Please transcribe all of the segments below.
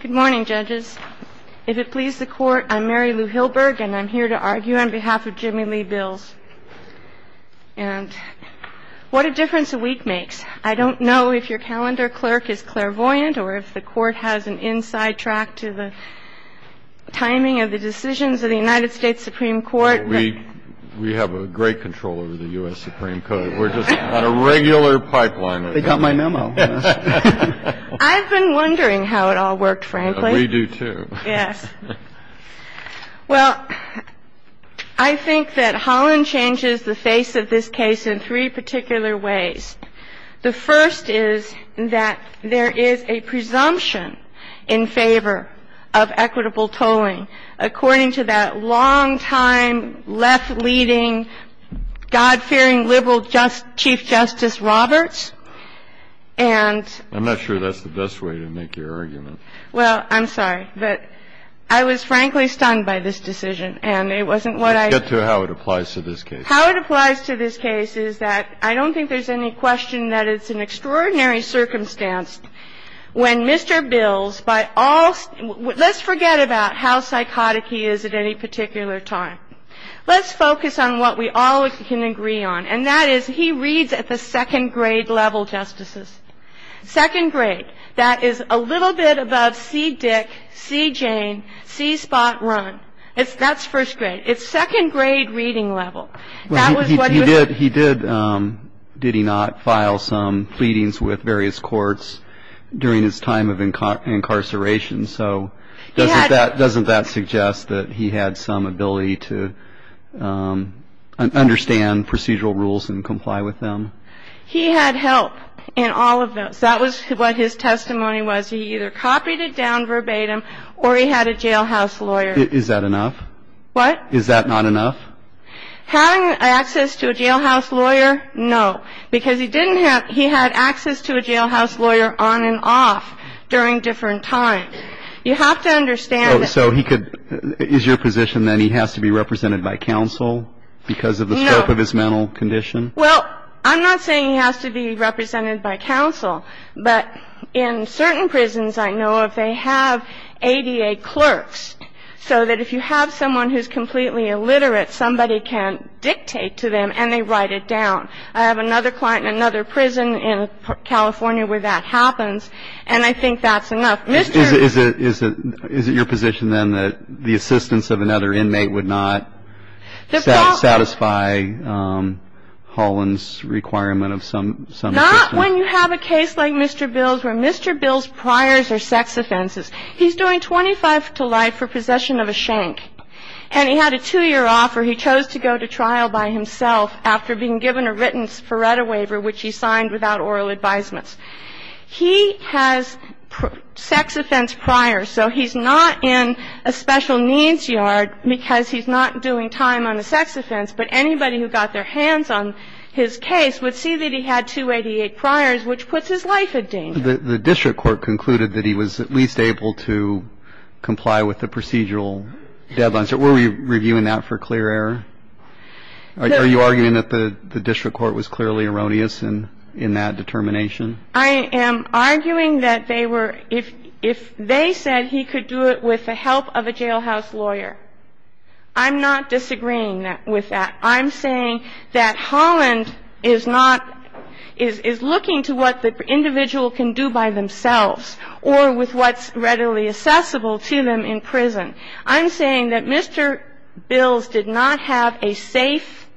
Good morning, Judges. If it pleases the Court, I'm Mary Lou Hilberg, and I'm here to argue on behalf of Jimmy Lee Bills. What a difference a week makes. I don't know if your calendar, Clerk, is clairvoyant or if the Court has an inside track to the timing of the decisions of the United States Supreme Court. We have great control over the U.S. Supreme Court. We're just on a regular pipeline. They got my memo. I've been wondering how it all worked, frankly. We do, too. Yes. Well, I think that Holland changes the face of this case in three particular ways. The first is that there is a presumption in favor of equitable tolling according to that longtime left-leading, God-fearing liberal Chief Justice Roberts. And ---- I'm not sure that's the best way to make your argument. Well, I'm sorry. But I was, frankly, stunned by this decision, and it wasn't what I ---- Let's get to how it applies to this case. How it applies to this case is that I don't think there's any question that it's an extraordinary circumstance when Mr. Bills, by all ---- let's forget about how psychotic he is at any particular time. Let's focus on what we all can agree on, and that is he reads at the second-grade level, Justices. Second grade. That is a little bit above C. Dick, C. Jane, C. Spot Run. That's first grade. It's second-grade reading level. That was what he was ---- He did, did he not file some pleadings with various courts during his time of incarceration? So doesn't that suggest that he had some ability to understand procedural rules and comply with them? He had help in all of those. That was what his testimony was. He either copied it down verbatim or he had a jailhouse lawyer. Is that enough? What? Is that not enough? Having access to a jailhouse lawyer, no, because he didn't have ---- he had access to a jailhouse lawyer on and off during different times. You have to understand that ---- So he could ---- is your position that he has to be represented by counsel because of the scope of his mental condition? No. Well, I'm not saying he has to be represented by counsel, but in certain prisons I know if they have ADA clerks so that if you have someone who's completely illiterate, somebody can dictate to them and they write it down. I have another client in another prison in California where that happens, and I think that's enough. Mr. ---- Is it your position then that the assistance of another inmate would not satisfy Holland's requirement of some assistance? No. I'm saying that he has to be represented by counsel. So when you have a case like Mr. Bill's where Mr. Bill's priors are sex offenses, he's doing 25 to life for possession of a shank, and he had a two-year offer. He chose to go to trial by himself after being given a written Sparetta waiver, which he signed without oral advisements. He has sex offense priors. So he's not in a special needs yard because he's not doing time on a sex offense, but anybody who got their hands on his case would see that he had two ADA priors, which puts his life in danger. The district court concluded that he was at least able to comply with the procedural deadlines. Were we reviewing that for clear error? Are you arguing that the district court was clearly erroneous in that determination? I am arguing that they were – if they said he could do it with the help of a jailhouse lawyer, I'm not disagreeing with that. I'm saying that Holland is not – is looking to what the individual can do by themselves or with what's readily accessible to them in prison. I'm saying that Mr. Bill's did not have a safe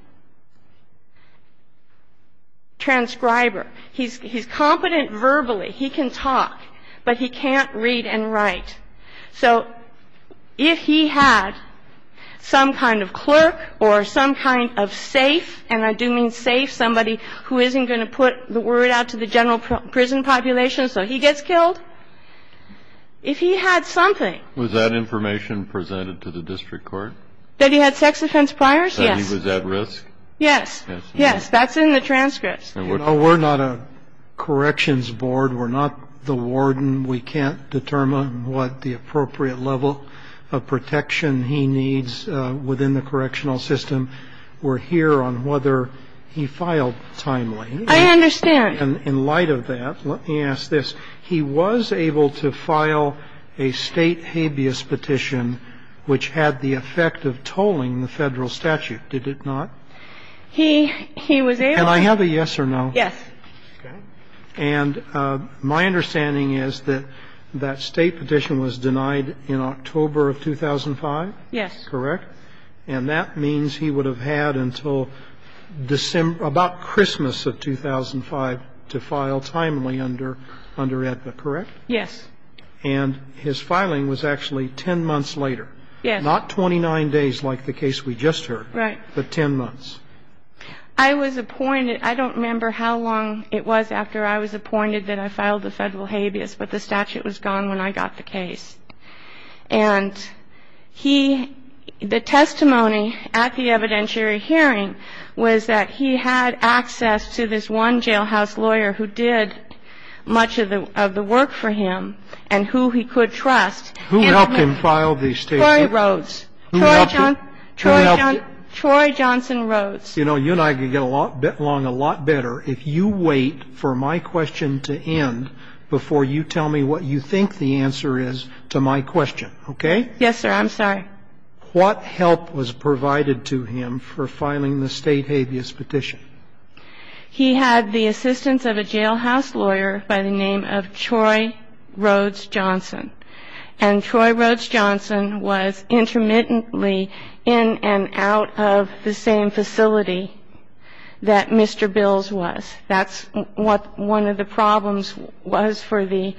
transcriber. He's competent verbally. He can talk, but he can't read and write. So if he had some kind of clerk or some kind of safe, and I do mean safe, somebody who isn't going to put the word out to the general prison population so he gets killed, if he had something. Was that information presented to the district court? That he had sex offense priors? Yes. That he was at risk? Yes. Yes. That's in the transcript. No, we're not a corrections board. We're not the warden. We can't determine what the appropriate level of protection he needs within the correctional system. We're here on whether he filed timely. I understand. In light of that, let me ask this. He was able to file a State habeas petition which had the effect of tolling the Federal statute, did it not? He was able to. Can I have a yes or no? Yes. Okay. And my understanding is that that State petition was denied in October of 2005? Yes. Correct? And that means he would have had until December, about Christmas of 2005 to file timely under AEDPA, correct? Yes. And his filing was actually 10 months later. Yes. Not 29 days like the case we just heard. Right. But 10 months. I was appointed. I don't remember how long it was after I was appointed that I filed the Federal habeas, but the statute was gone when I got the case. And he, the testimony at the evidentiary hearing was that he had access to this one jailhouse lawyer who did much of the work for him and who he could trust. Who helped him file the State habeas? Troy Rhodes. You know, you and I could get along a lot better if you wait for my question to end before you tell me what you think the answer is to my question. Okay? Yes, sir. I'm sorry. What help was provided to him for filing the State habeas petition? He had the assistance of a jailhouse lawyer by the name of Troy Rhodes Johnson. And Troy Rhodes Johnson was intermittently in and out of the same facility that Mr. Bills was. That's what one of the problems was for the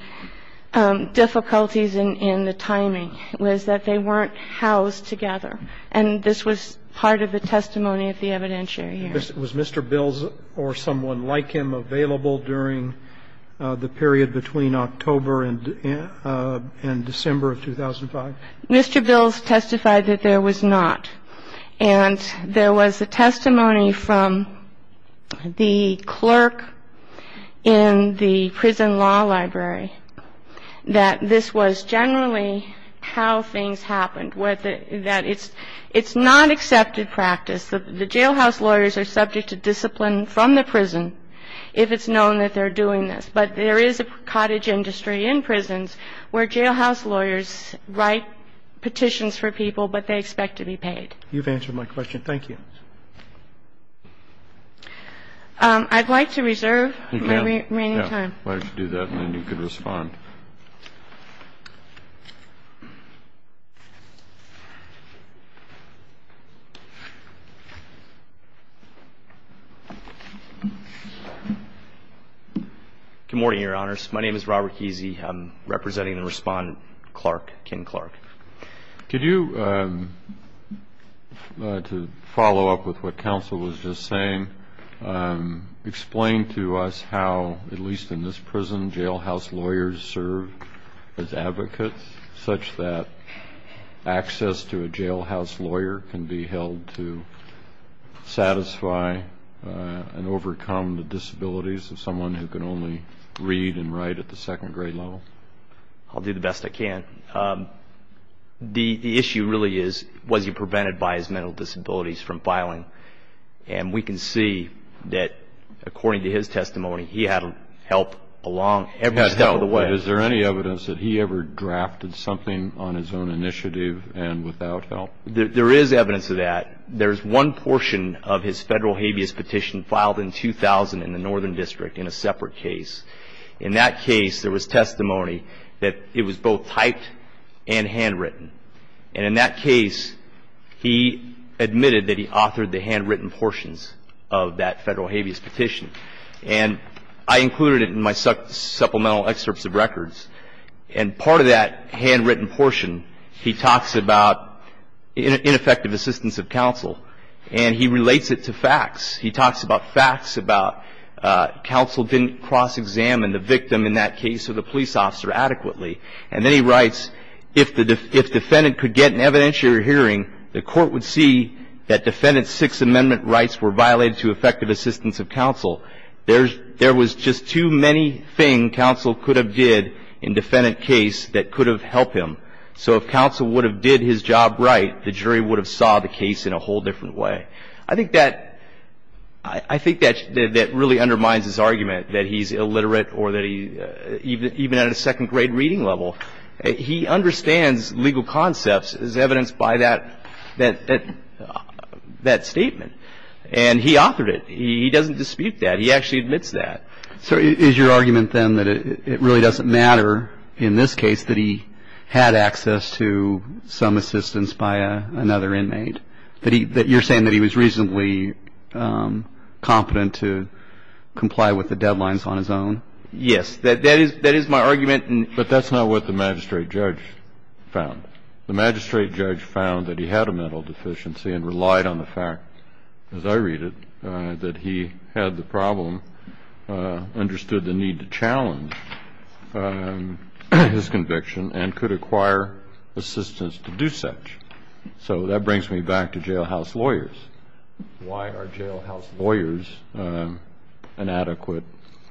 difficulties in the timing, was that they weren't housed together. And this was part of the testimony at the evidentiary hearing. Was Mr. Bills or someone like him available during the period between October and December of 2005? Mr. Bills testified that there was not. And there was a testimony from the clerk in the prison law library that this was generally how things happened, that it's not accepted practice. The jailhouse lawyers are subject to discipline from the prison if it's known that they're doing this. But there is a cottage industry in prisons where jailhouse lawyers write petitions for people, but they expect to be paid. You've answered my question. Thank you. I'd like to reserve my remaining time. Why don't you do that and then you can respond. Good morning, Your Honors. My name is Robert Kesey. I'm representing the respondent, Clark, Ken Clark. Could you, to follow up with what counsel was just saying, explain to us how, at least in this prison, jailhouse lawyers serve as advocates such that access to a jailhouse lawyer can be held to satisfy and overcome the disabilities of someone who can only read and write at the second grade level? I'll do the best I can. The issue really is, was he prevented by his mental disabilities from filing? And we can see that, according to his testimony, he had help along every step of the way. He had help. But is there any evidence that he ever drafted something on his own initiative and without help? There is evidence of that. There's one portion of his federal habeas petition filed in 2000 in the Northern District in a separate case. In that case, there was testimony that it was both typed and handwritten. And in that case, he admitted that he authored the handwritten portions of that federal habeas petition. And I included it in my supplemental excerpts of records. And part of that handwritten portion, he talks about ineffective assistance of counsel. And he relates it to facts. He talks about facts about counsel didn't cross-examine the victim in that case or the police officer adequately. And then he writes, if the defendant could get an evidentiary hearing, the court would see that defendant's Sixth Amendment rights were violated to effective assistance of counsel. There was just too many things counsel could have did in defendant case that could have helped him. So if counsel would have did his job right, the jury would have saw the case in a whole different way. I think that really undermines his argument that he's illiterate or that even at a second-grade reading level, he understands legal concepts as evidenced by that statement. And he authored it. He doesn't dispute that. He actually admits that. So is your argument, then, that it really doesn't matter in this case that he had access to some assistance by another inmate, and that you're saying that he was reasonably competent to comply with the deadlines on his own? Yes. That is my argument. But that's not what the magistrate judge found. The magistrate judge found that he had a mental deficiency and relied on the fact, as I read it, that he had the problem, understood the need to challenge his conviction and could acquire assistance to do such. So that brings me back to jailhouse lawyers. Why are jailhouse lawyers an adequate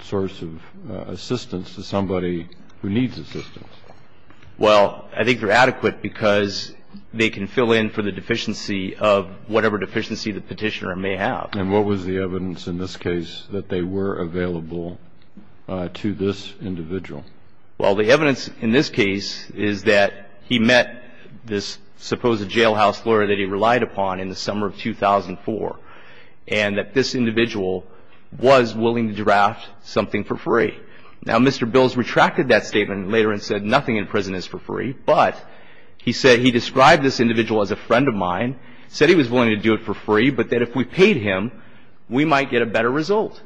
source of assistance to somebody who needs assistance? Well, I think they're adequate because they can fill in for the deficiency of whatever deficiency the Petitioner may have. And what was the evidence in this case that they were available to this individual? Well, the evidence in this case is that he met this supposed jailhouse lawyer that he relied upon in the summer of 2004, and that this individual was willing to draft something for free. Now, Mr. Bills retracted that statement later and said nothing in prison is for free, but he said he described this individual as a friend of mine, said he was willing to do it for free, but that if we paid him, we might get a better result.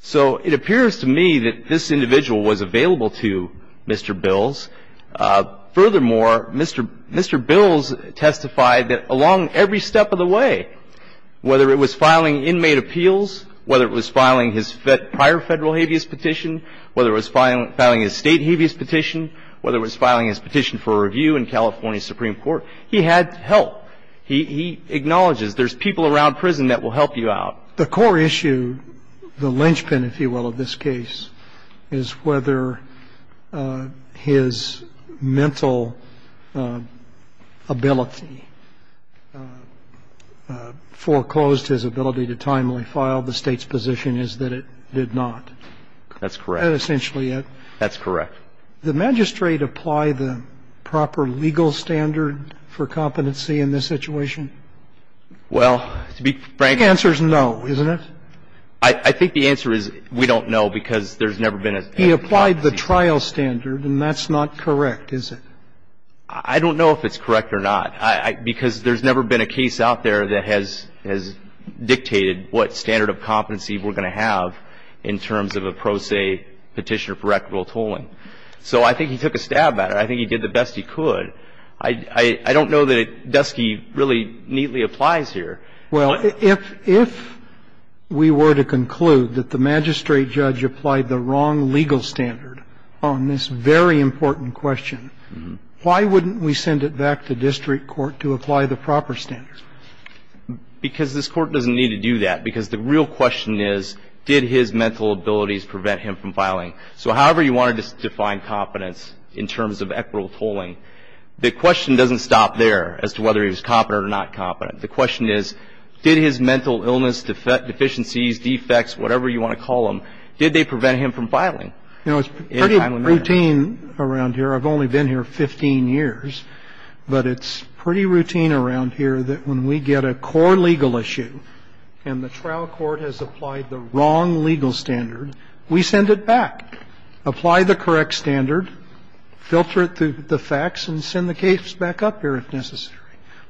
So it appears to me that this individual was available to Mr. Bills. Furthermore, Mr. Bills testified that along every step of the way, whether it was filing inmate appeals, whether it was filing his prior Federal habeas petition, whether it was filing his State habeas petition, whether it was filing his petition for review in California Supreme Court, he had help. He acknowledges there's people around prison that will help you out. The core issue, the linchpin, if you will, of this case is whether his mental ability foreclosed his ability to timely file the State's position is that it did not. That's correct. That's essentially it. That's correct. The magistrate apply the proper legal standard for competency in this situation? Well, to be frank. The answer is no, isn't it? I think the answer is we don't know, because there's never been a standard. He applied the trial standard, and that's not correct, is it? I don't know if it's correct or not, because there's never been a case out there that has dictated what standard of competency we're going to have in terms of a pro se petitioner for equitable tolling. So I think he took a stab at it. I think he did the best he could. I don't know that Dusky really neatly applies here. Well, if we were to conclude that the magistrate judge applied the wrong legal standard on this very important question, why wouldn't we send it back to district court to apply the proper standard? Because this Court doesn't need to do that, because the real question is did his mental abilities prevent him from filing. So however you want to define competence in terms of equitable tolling, the question doesn't stop there as to whether he was competent or not competent. The question is did his mental illness, deficiencies, defects, whatever you want to call them, did they prevent him from filing? You know, it's pretty routine around here. I've only been here 15 years. But it's pretty routine around here that when we get a core legal issue and the trial is over, we go back, apply the correct standard, filter it through the facts, and send the case back up here if necessary.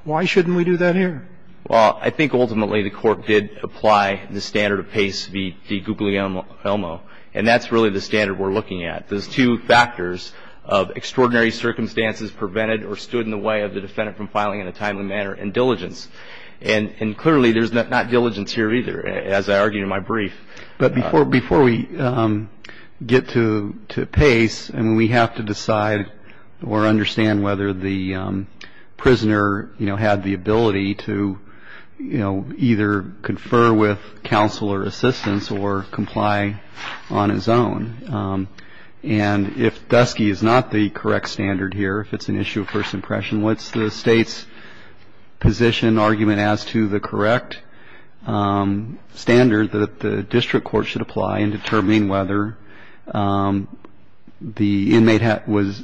Why shouldn't we do that here? Well, I think ultimately the Court did apply the standard of Pace v. DiGuglielmo, and that's really the standard we're looking at. There's two factors of extraordinary circumstances prevented or stood in the way of the defendant from filing in a timely manner and diligence. And clearly there's not diligence here either, as I argued in my brief. But before we get to Pace, I mean, we have to decide or understand whether the prisoner, you know, had the ability to, you know, either confer with counsel or assistance or comply on his own. And if Dusky is not the correct standard here, if it's an issue of first impression, what's the State's position and argument as to the correct standard that the district court should apply in determining whether the inmate was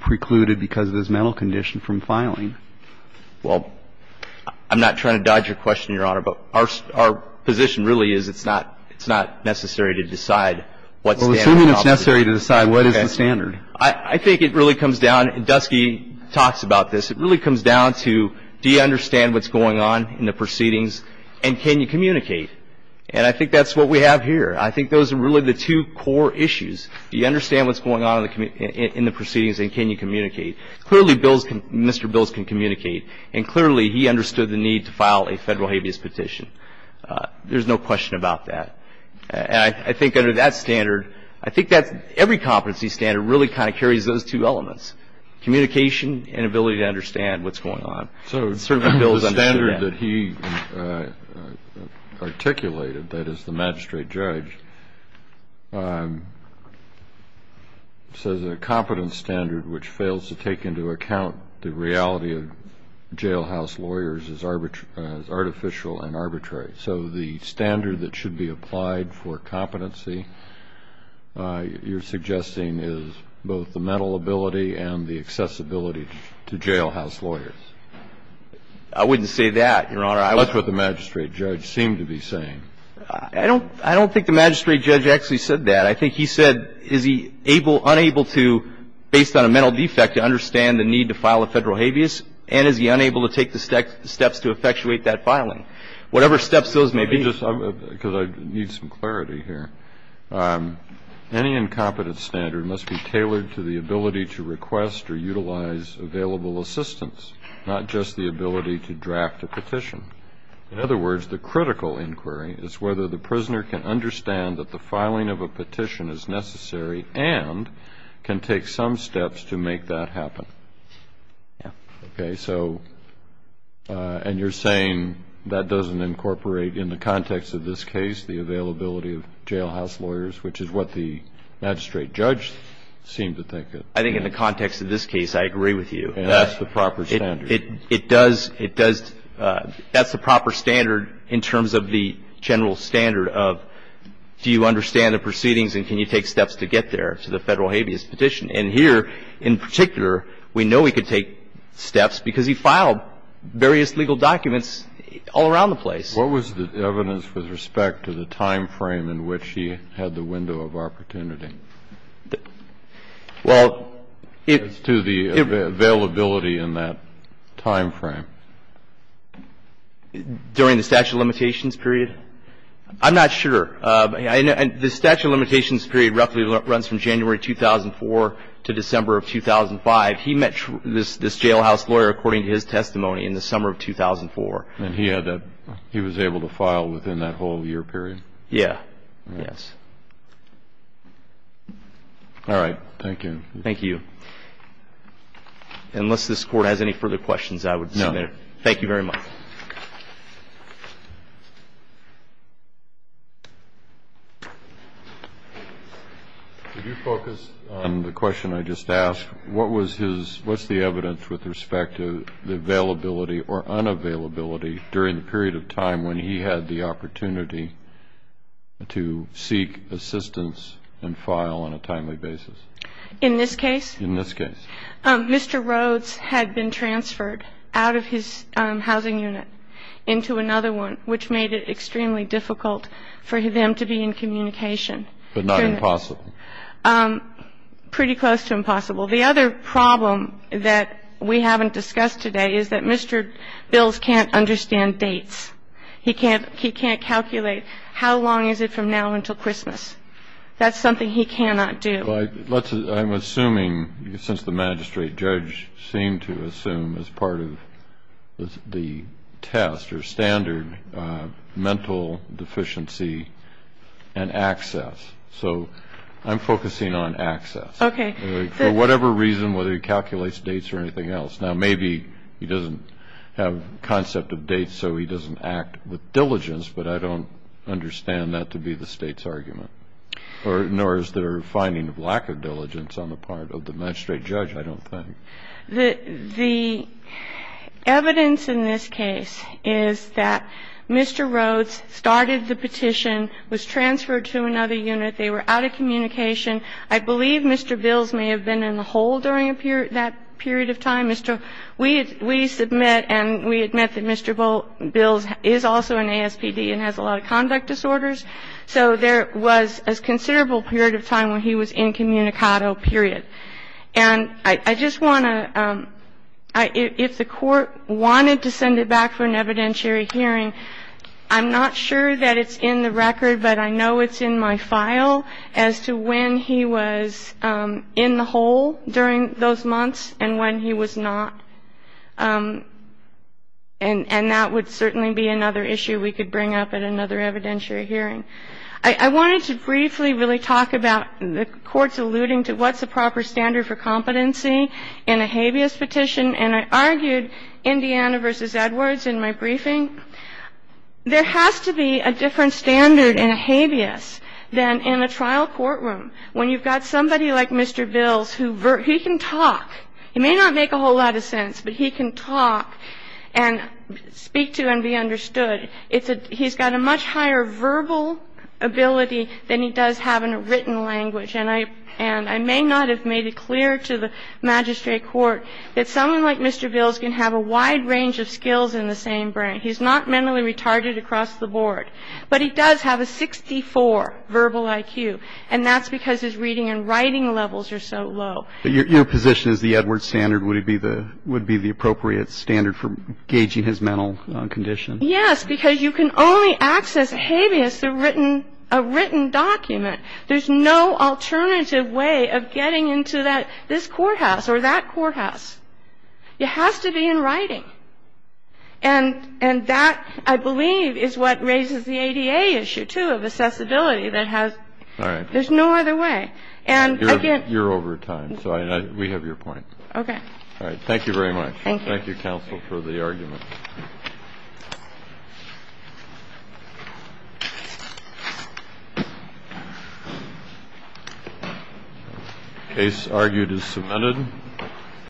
precluded because of his mental condition from filing? Well, I'm not trying to dodge your question, Your Honor, but our position really is it's not necessary to decide what standard. Well, assuming it's necessary to decide what is the standard. I think it really comes down, and Dusky talks about this, it really comes down to do you understand what's going on in the proceedings and can you communicate? And I think that's what we have here. I think those are really the two core issues. Do you understand what's going on in the proceedings and can you communicate? Clearly, Mr. Bills can communicate. And clearly he understood the need to file a Federal habeas petition. There's no question about that. And I think under that standard, I think every competency standard really kind of carries those two elements, communication and ability to understand what's going on. So the standard that he articulated, that is the magistrate judge, says a competence standard which fails to take into account the reality of jailhouse lawyers is artificial and arbitrary. So the standard that should be applied for competency you're suggesting is both the mental ability and the accessibility to jailhouse lawyers. I wouldn't say that, Your Honor. That's what the magistrate judge seemed to be saying. I don't think the magistrate judge actually said that. I think he said is he unable to, based on a mental defect, to understand the need to file a Federal habeas and is he unable to take the steps to effectuate that filing? Whatever steps those may be. Because I need some clarity here. Any incompetence standard must be tailored to the ability to request or utilize available assistance, not just the ability to draft a petition. In other words, the critical inquiry is whether the prisoner can understand that the filing of a petition is necessary and can take some steps to make that happen. Yeah. Okay. And so and you're saying that doesn't incorporate in the context of this case the availability of jailhouse lawyers, which is what the magistrate judge seemed to think. I think in the context of this case, I agree with you. That's the proper standard. It does. It does. That's the proper standard in terms of the general standard of do you understand the proceedings and can you take steps to get there to the Federal habeas petition? And here, in particular, we know he could take steps because he filed various legal documents all around the place. What was the evidence with respect to the time frame in which he had the window of opportunity? Well, it's to the availability in that time frame. During the statute of limitations period? I'm not sure. The statute of limitations period roughly runs from January 2004 to December of 2005. He met this jailhouse lawyer, according to his testimony, in the summer of 2004. And he was able to file within that whole year period? Yeah. Yes. All right. Thank you. Thank you. Unless this Court has any further questions, I would submit it. No. Thank you very much. Thank you. Could you focus on the question I just asked? What was the evidence with respect to the availability or unavailability during the period of time when he had the opportunity to seek assistance and file on a timely basis? In this case? In this case. Mr. Rhodes had been transferred out of his housing unit into another one, which made it extremely difficult for them to be in communication. But not impossible? Pretty close to impossible. The other problem that we haven't discussed today is that Mr. Bills can't understand dates. He can't calculate how long is it from now until Christmas. That's something he cannot do. I'm assuming, since the magistrate judge seemed to assume as part of the test or standard mental deficiency and access. So I'm focusing on access. Okay. For whatever reason, whether he calculates dates or anything else. Now, maybe he doesn't have a concept of dates, so he doesn't act with diligence, but I don't understand that to be the State's argument. Nor is there a finding of lack of diligence on the part of the magistrate judge, I don't think. The evidence in this case is that Mr. Rhodes started the petition, was transferred to another unit. They were out of communication. I believe Mr. Bills may have been in the hole during that period of time. We submit and we admit that Mr. Bills is also an ASPD and has a lot of conduct disorders. So there was a considerable period of time where he was incommunicado, period. And I just want to, if the Court wanted to send it back for an evidentiary hearing, I'm not sure that it's in the record, but I know it's in my file as to when he was in the hole during those months and when he was not. And that would certainly be another issue we could bring up at another evidentiary hearing. I wanted to briefly really talk about the Court's alluding to what's a proper standard for competency in a habeas petition. And I argued Indiana v. Edwards in my briefing. There has to be a different standard in a habeas than in a trial courtroom. When you've got somebody like Mr. Bills who can talk, he may not make a whole lot of sense, but he can talk and speak to and be understood. He's got a much higher verbal ability than he does have in a written language. And I may not have made it clear to the magistrate court that someone like Mr. Bills can have a wide range of skills in the same brain. He's not mentally retarded across the board. But he does have a 64 verbal IQ. And that's because his reading and writing levels are so low. But your position is the Edwards standard would be the appropriate standard for gauging his mental condition. Yes, because you can only access habeas through a written document. There's no alternative way of getting into this courthouse or that courthouse. It has to be in writing. And that, I believe, is what raises the ADA issue, too, of accessibility that has no other way. You're over time, so we have your point. Okay. All right. Thank you very much. Thank you. Thank you, counsel, for the argument. The case argued is submitted.